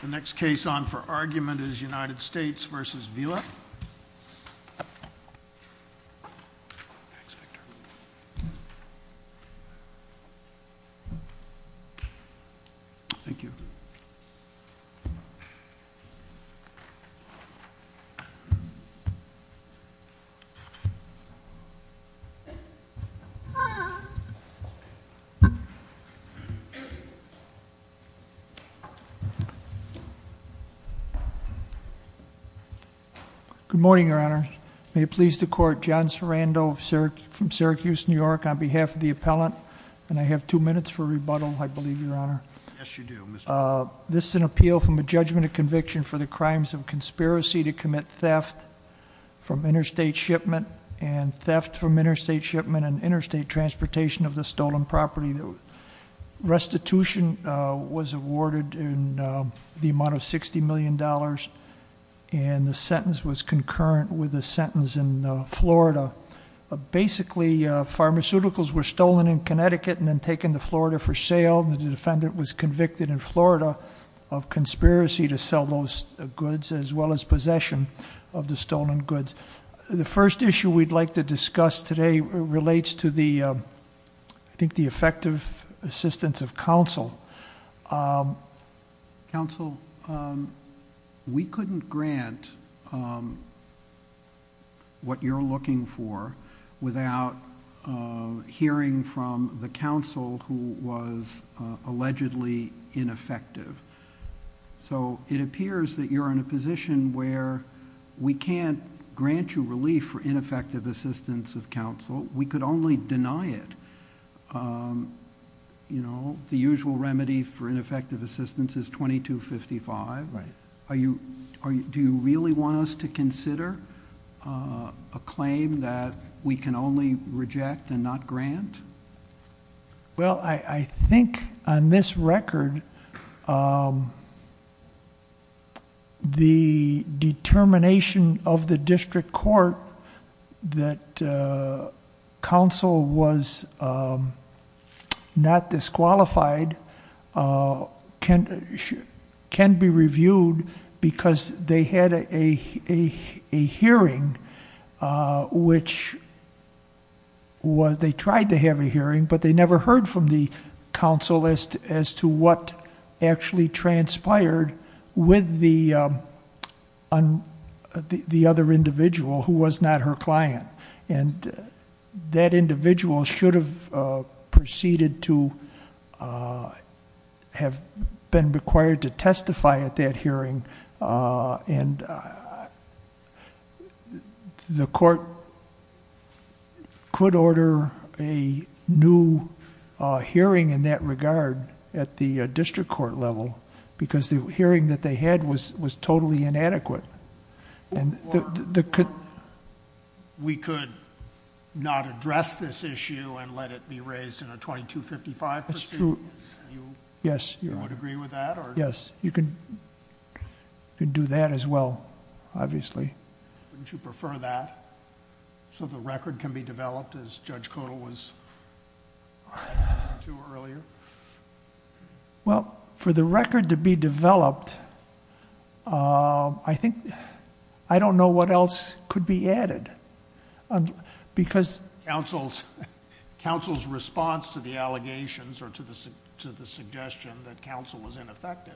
The next case on for argument is United States v. Vila. Good morning, Your Honor. May it please the court, John Sarando from Syracuse, New York, on behalf of the appellant. And I have two minutes for rebuttal, I believe, Your Honor. Yes, you do, Mr. This is an appeal from a judgment of conviction for the crimes of conspiracy to commit theft from interstate shipment and theft from interstate shipment and interstate transportation of the stolen property. The restitution was awarded in the amount of $60 million. And the sentence was concurrent with the sentence in Florida. Basically, pharmaceuticals were stolen in Connecticut and then taken to Florida for sale. And the defendant was convicted in Florida of conspiracy to sell those goods, as well as possession of the stolen goods. The first issue we'd like to discuss today relates to the, I think, the effective assistance of counsel. Counsel, we couldn't grant what you're looking for without hearing from the counsel who was allegedly ineffective. So, it appears that you're in a position where we can't grant you relief for ineffective assistance of counsel, we could only deny it. The usual remedy for ineffective assistance is 2255. Do you really want us to consider a claim that we can only reject and not grant? Well, I think on this record, the determination of the district court that counsel was not disqualified can be reviewed because they had a hearing which was, they tried to have a hearing, but they never heard from the counsel as to what actually transpired with the other individual who was not her client. And that individual should have proceeded to have been required to testify at that hearing and the court could order a new hearing in that regard at the district court level. Because the hearing that they had was totally inadequate. Or we could not address this issue and let it be raised in a 2255 proceedings. That's true, yes. You would agree with that or? Yes, you could do that as well, obviously. Wouldn't you prefer that? So the record can be developed as Judge Codal was referring to earlier? Well, for the record to be developed, I think, I don't know what else could be added. Because- Counsel's response to the allegations or to the suggestion that counsel was ineffective.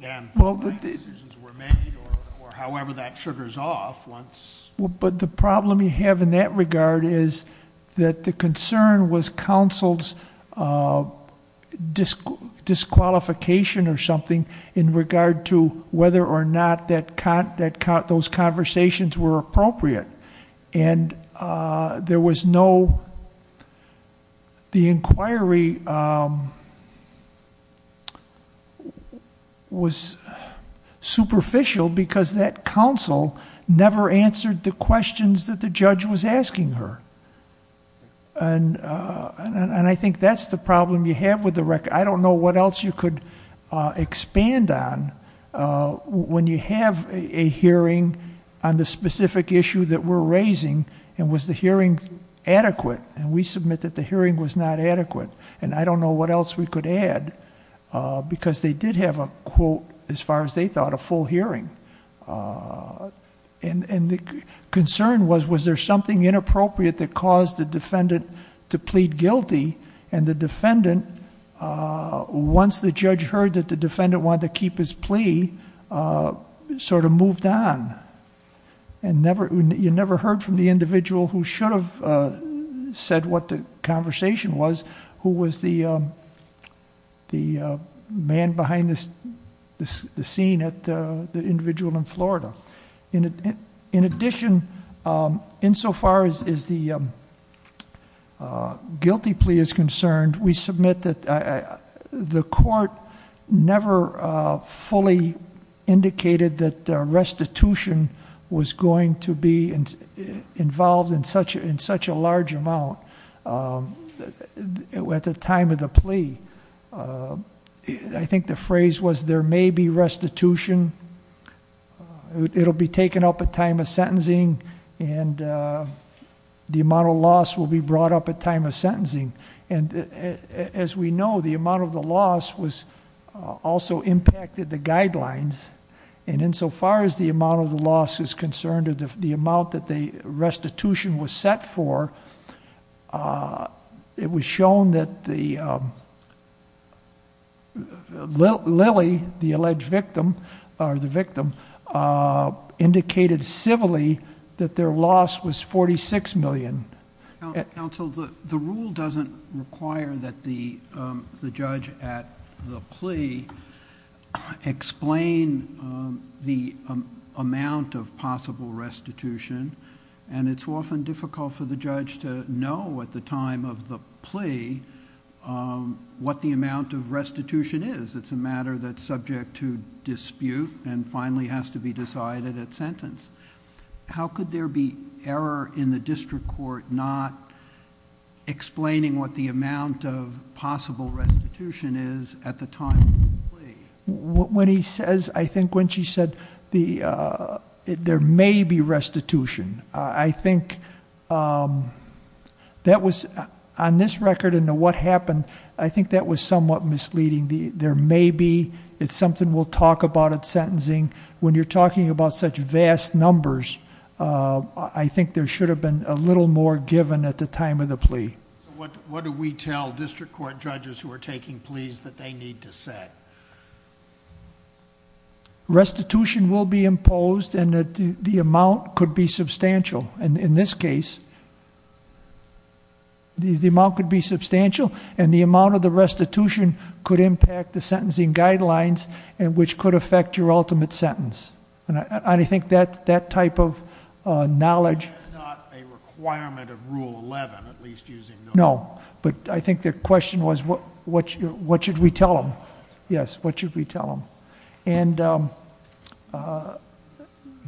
And- Well, the- Decisions were made or however that sugars off once- Well, but the problem you have in that regard is that the concern was counsel's disqualification or something in regard to whether or not those conversations were appropriate. And there was no, the inquiry was superficial because that counsel never answered the questions that the judge was asking her. And I think that's the problem you have with the record. I don't know what else you could expand on when you have a hearing on the specific issue that we're raising, and was the hearing adequate? And we submit that the hearing was not adequate. And I don't know what else we could add, because they did have a quote, as far as they thought, a full hearing. And the concern was, was there something inappropriate that caused the defendant to plead guilty? And the defendant, once the judge heard that the defendant wanted to keep his plea, he sort of moved on, and you never heard from the individual who should have said what the conversation was, who was the man behind the scene at the individual in Florida. In addition, insofar as the guilty plea is concerned, we submit that the court never fully indicated that restitution was going to be involved in such a large amount. At the time of the plea, I think the phrase was, there may be restitution. It'll be taken up at time of sentencing, and the amount of loss will be brought up at time of sentencing. And as we know, the amount of the loss also impacted the guidelines. And insofar as the amount of the loss is concerned, or the amount that the restitution was set for, it was shown that Lily, the alleged victim, or the victim, indicated civilly that their loss was 46 million. Counsel, the rule doesn't require that the judge at the plea explain the amount of possible restitution. And it's often difficult for the judge to know at the time of the plea what the amount of restitution is. It's a matter that's subject to dispute and finally has to be decided at sentence. How could there be error in the district court not explaining what the amount of possible restitution is at the time of the plea? When he says, I think when she said, there may be restitution. I think that was, on this record and what happened, I think that was somewhat misleading, there may be, it's something we'll talk about at sentencing. When you're talking about such vast numbers, I think there should have been a little more given at the time of the plea. What do we tell district court judges who are taking pleas that they need to set? Restitution will be imposed and the amount could be substantial. And in this case, the amount could be substantial and the amount of the restitution could impact the sentencing guidelines and which could affect your ultimate sentence. And I think that type of knowledge- That's not a requirement of rule 11, at least using the- No, but I think the question was, what should we tell them? Yes, what should we tell them? And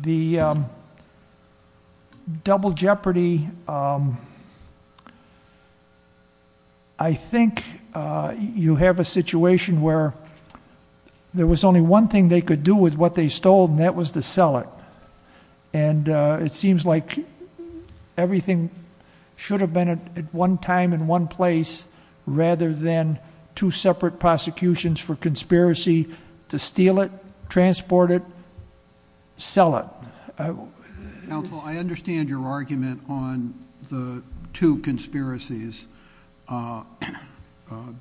the double jeopardy, I think you have a situation where there was only one thing they could do with what they stole, and that was to sell it. And it seems like everything should have been at one time and one place rather than two separate prosecutions for conspiracy to steal it, transport it, sell it. Counsel, I understand your argument on the two conspiracies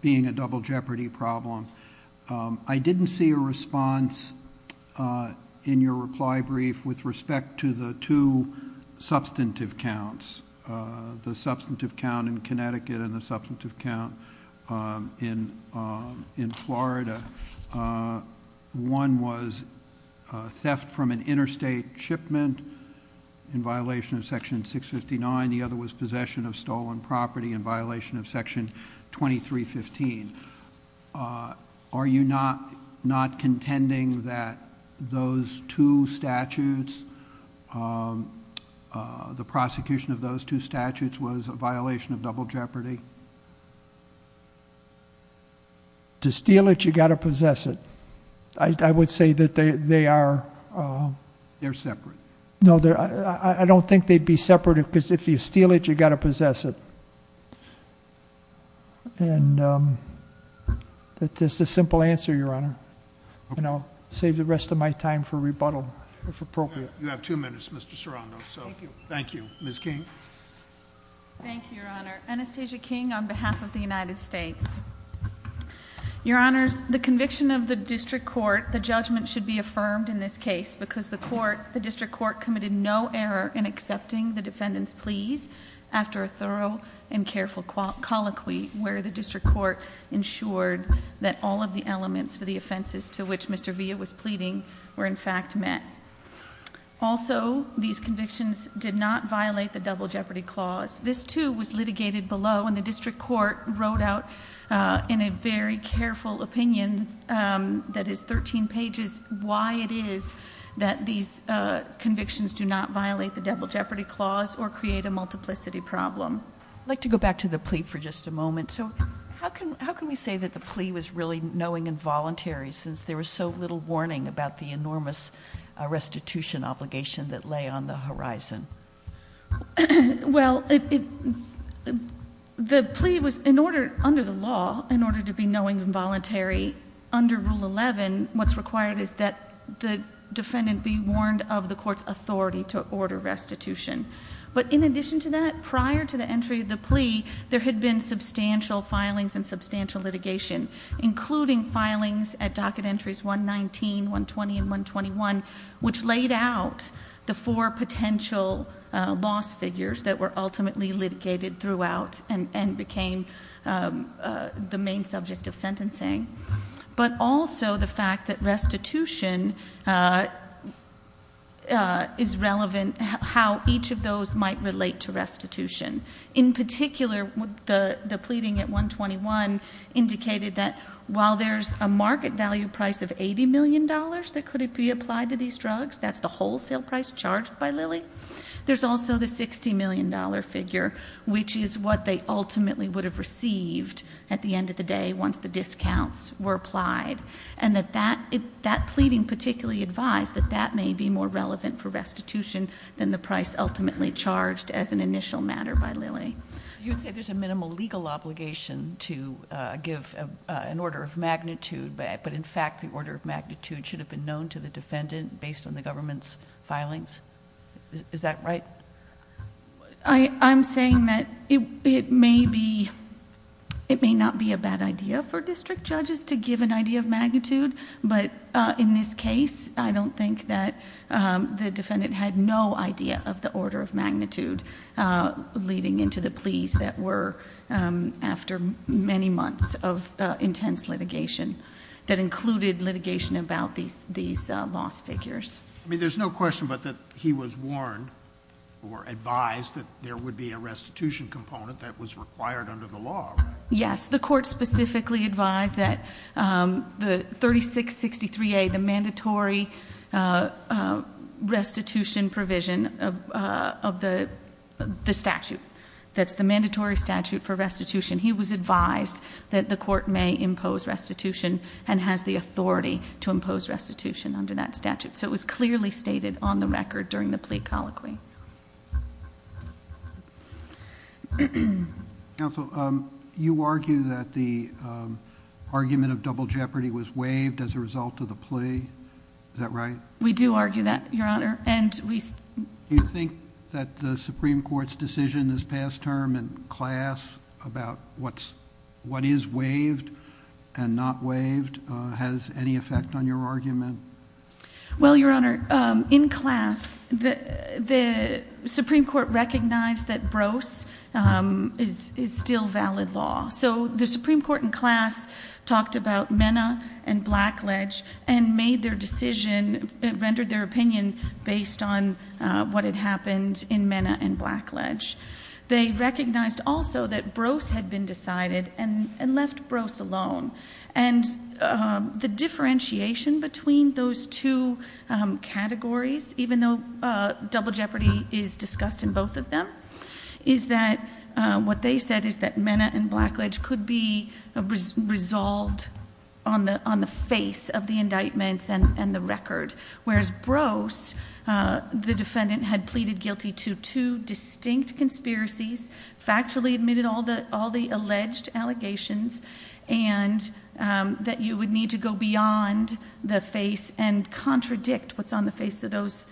being a double jeopardy problem. I didn't see a response in your reply brief with respect to the two substantive counts. The substantive count in Connecticut and the substantive count in Florida. One was theft from an interstate shipment in violation of section 659. The other was possession of stolen property in violation of section 2315. Are you not contending that those two statutes, the prosecution of those two statutes was a violation of double jeopardy? To steal it, you gotta possess it. I would say that they are- They're separate. No, I don't think they'd be separate, because if you steal it, you gotta possess it. And that's just a simple answer, Your Honor. And I'll save the rest of my time for rebuttal, if appropriate. You have two minutes, Mr. Serrano, so thank you. Ms. King? Thank you, Your Honor. Anastasia King on behalf of the United States. Your Honors, the conviction of the district court, the judgment should be affirmed in this case, because the district court committed no error in accepting the defendant's pleas after a thorough and careful colloquy where the district court ensured that all of the elements for the offenses to which Mr. Villa was pleading were in fact met. Also, these convictions did not violate the double jeopardy clause. This, too, was litigated below, and the district court wrote out in a very careful opinion, that is 13 pages, why it is that these convictions do not violate the double jeopardy clause or create a multiplicity problem. I'd like to go back to the plea for just a moment. So how can we say that the plea was really knowing and voluntary, since there was so little warning about the enormous restitution obligation that lay on the horizon? Well, the plea was, under the law, in order to be knowing and voluntary under Rule 11, what's required is that the defendant be warned of the court's authority to order restitution. But in addition to that, prior to the entry of the plea, there had been substantial filings and substantial litigation, including filings at docket entries 119, 120, and 121, which laid out the four potential loss figures that were ultimately litigated throughout, and became the main subject of sentencing. But also, the fact that restitution is relevant, how each of those might relate to restitution. In particular, the pleading at 121 indicated that while there's a market value price of $80 million that could be applied to these convictions, that's the wholesale price charged by Lilly, there's also the $60 million figure, which is what they ultimately would have received at the end of the day once the discounts were applied. And that pleading particularly advised that that may be more relevant for restitution than the price ultimately charged as an initial matter by Lilly. You'd say there's a minimal legal obligation to give an order of magnitude, but that in fact the order of magnitude should have been known to the defendant based on the government's filings? Is that right? I'm saying that it may not be a bad idea for district judges to give an idea of magnitude, but in this case, I don't think that the defendant had no idea of the order of magnitude leading into the pleas that were after many months of intense litigation. That included litigation about these lost figures. I mean, there's no question but that he was warned or advised that there would be a restitution component that was required under the law, right? Yes, the court specifically advised that the 3663A, the mandatory restitution provision of the statute. That's the mandatory statute for restitution. He was advised that the court may impose restitution and has the authority to impose restitution under that statute. So it was clearly stated on the record during the plea colloquy. Counsel, you argue that the argument of double jeopardy was waived as a result of the plea. Is that right? We do argue that, your honor. And we- Do you think that the Supreme Court's decision this past term in class about what is waived and not waived has any effect on your argument? Well, your honor, in class, the Supreme Court recognized that Brose is still valid law. So the Supreme Court in class talked about Mena and Blackledge and made their decision, rendered their opinion based on what had happened in Mena and Blackledge. They recognized also that Brose had been decided and left Brose alone. And the differentiation between those two categories, even though double jeopardy is discussed in both of them, is that what they said is that Mena and Blackledge are the indictments and the record, whereas Brose, the defendant had pleaded guilty to two distinct conspiracies, factually admitted all the alleged allegations, and that you would need to go beyond the face and contradict what's on the face of those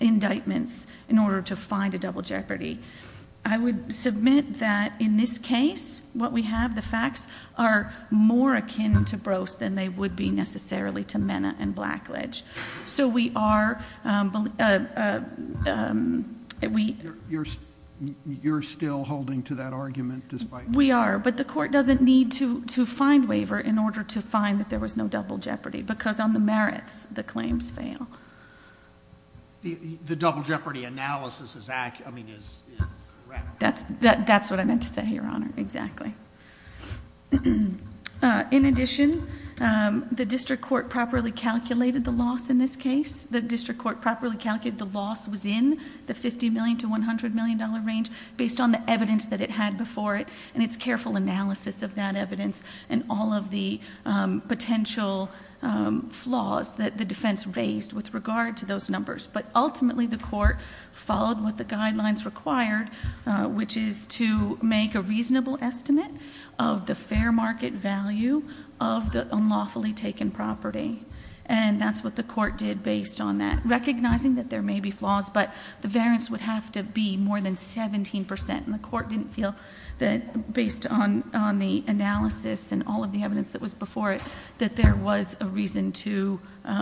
indictments in order to find a double jeopardy. I would submit that in this case, what we have, the facts are more akin to Brose than they would be necessarily to Mena and Blackledge. So we are, we- You're still holding to that argument despite- We are, but the court doesn't need to find waiver in order to find that there was no double jeopardy, because on the merits, the claims fail. The double jeopardy analysis is accurate, I mean, is correct. That's what I meant to say, Your Honor, exactly. In addition, the district court properly calculated the loss in this case. The district court properly calculated the loss was in the $50 million to $100 million range, based on the evidence that it had before it, and its careful analysis of that evidence, and all of the potential flaws that the defense raised with regard to those numbers. But ultimately, the court followed what the guidelines required, which is to make a reasonable estimate of the fair market value of the unlawfully taken property. And that's what the court did based on that, recognizing that there may be flaws, but the variance would have to be more than 17%. And the court didn't feel that, based on the analysis and all of the evidence that was before it, that there was a reason to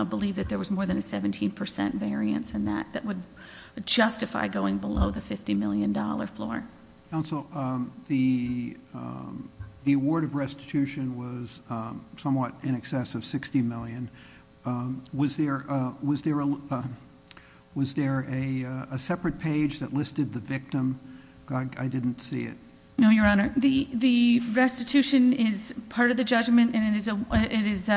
believe that there was more than a 17% variance in that, that would justify going below the $50 million floor. Counsel, the award of restitution was somewhat in excess of 60 million. Was there a separate page that listed the victim? I didn't see it. No, your honor. The restitution is part of the judgment, and it is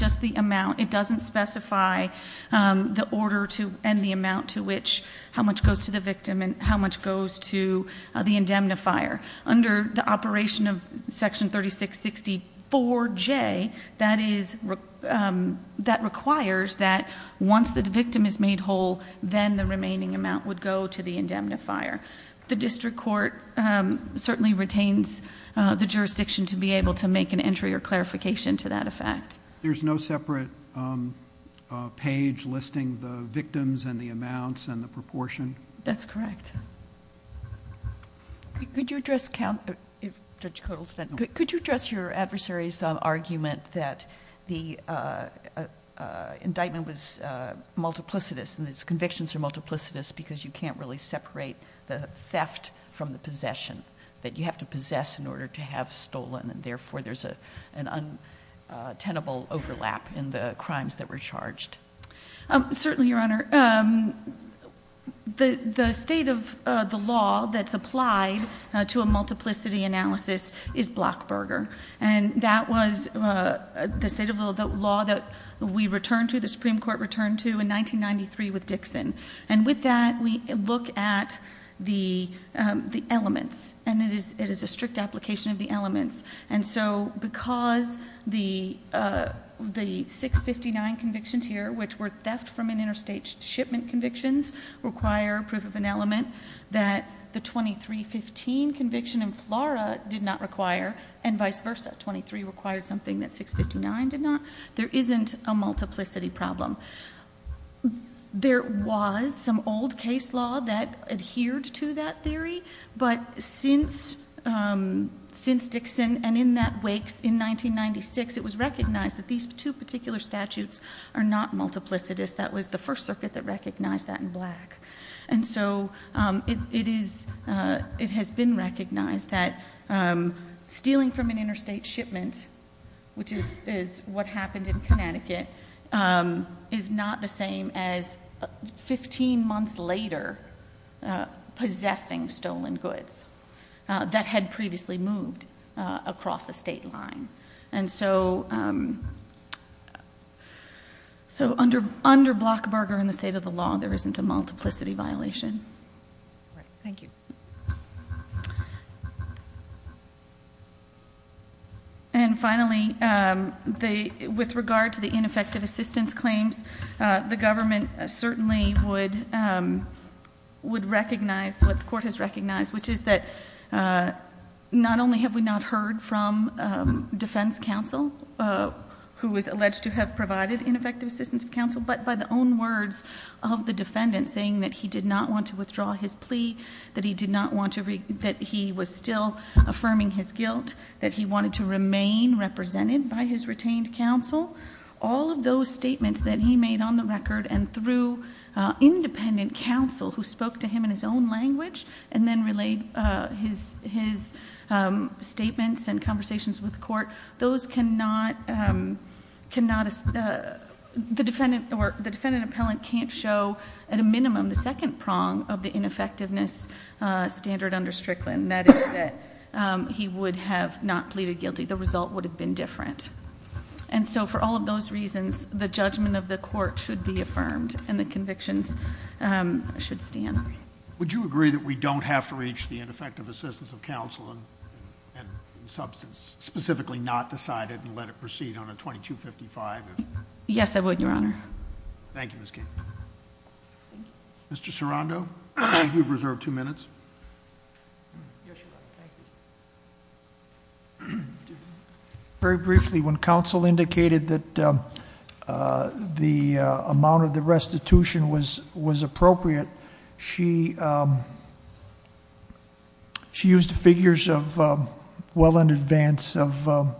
just the amount. It doesn't specify the order and the amount to which how much goes to the victim and how much goes to the indemnifier. Under the operation of section 3664J, that requires that once the victim is made whole, then the remaining amount would go to the indemnifier. The district court certainly retains the jurisdiction to be able to make an entry or clarification to that effect. There's no separate page listing the victims and the amounts and the proportion? That's correct. Could you address your adversary's argument that the indictment was multiplicitous, and its convictions are multiplicitous because you can't really separate the theft from the possession. That you have to possess in order to have stolen, and therefore there's an untenable overlap in the crimes that were charged. Certainly, your honor. The state of the law that's applied to a multiplicity analysis is Blockberger. And that was the state of the law that we returned to, the Supreme Court returned to, in 1993 with Dixon. And with that, we look at the elements, and it is a strict application of the elements. And so, because the 659 convictions here, which were theft from an interstate shipment convictions, require proof of an element. That the 2315 conviction in Flora did not require, and vice versa. 23 required something that 659 did not. There isn't a multiplicity problem. There was some old case law that adhered to that theory. But since Dixon, and in that wakes in 1996, it was recognized that these two particular statutes are not multiplicitous. That was the first circuit that recognized that in Black. And so, it has been recognized that stealing from an interstate shipment, which is what happened in Connecticut, is not the same as Possessing stolen goods that had previously moved across the state line. And so, under Blockberger and the state of the law, there isn't a multiplicity violation. Thank you. And finally, with regard to the ineffective assistance claims, the government certainly would recognize what the court has recognized. Which is that, not only have we not heard from defense counsel, who was alleged to have provided ineffective assistance to counsel, but by the own words of the defendant, saying that he did not want to withdraw his plea, that he was still affirming his guilt. That he wanted to remain represented by his retained counsel. All of those statements that he made on the record, and through independent counsel, who spoke to him in his own language, and then relayed his statements and conversations with the court. Those cannot, the defendant appellant can't show, at a minimum, the second prong of the ineffectiveness standard under Strickland. That is that he would have not pleaded guilty. The result would have been different. And so for all of those reasons, the judgment of the court should be affirmed, and the convictions should stand. Would you agree that we don't have to reach the ineffective assistance of counsel and substance, specifically not decide it and let it proceed on a 2255? Yes, I would, Your Honor. Thank you, Ms. King. Mr. Serando, you've reserved two minutes. Yes, Your Honor, thank you. Very briefly, when counsel indicated that the amount of the restitution was appropriate, she used figures of well in advance of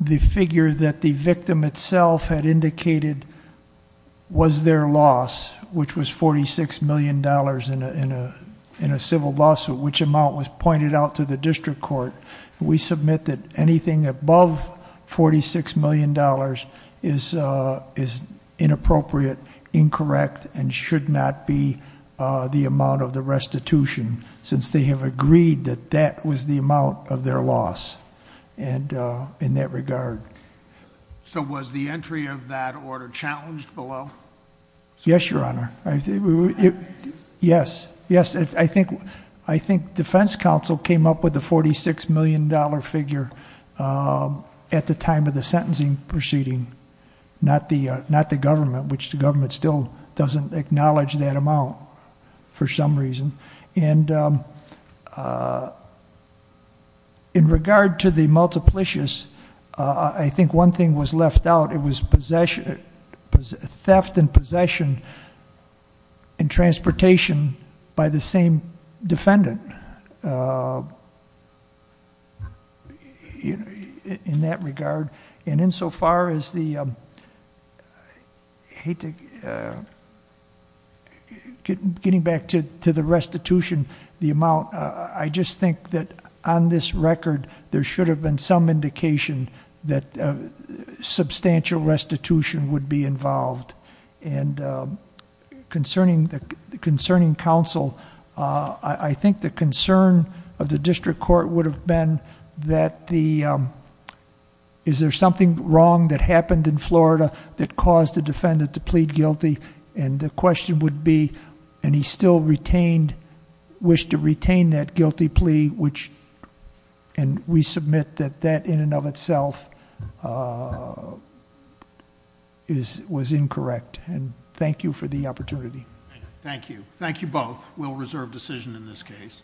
the figure that the victim itself had indicated was their loss. Which was $46 million in a civil lawsuit, which amount was pointed out to the district court. We submit that anything above $46 million is inappropriate, incorrect, and should not be the amount of the restitution, since they have agreed that that was the amount of their loss in that regard. So was the entry of that order challenged below? Yes, Your Honor, yes, I think defense counsel came up with the $46 million figure at the time of the sentencing proceeding. Not the government, which the government still doesn't acknowledge that amount for some reason. And in regard to the multiplicious, I think one thing was left out, it was theft and possession in transportation by the same defendant. In that regard, and insofar as the, I hate to, getting back to the restitution, the amount, I just think that on this record there should have been some indication that substantial restitution would be involved. And concerning counsel, I think the concern of the district court would have been that the, is there something wrong that happened in Florida that caused the defendant to plead guilty? And the question would be, and he still retained, wished to retain that guilty plea, which, and we submit that that in and of itself was incorrect. And thank you for the opportunity. Thank you. Thank you both. We'll reserve decision in this case.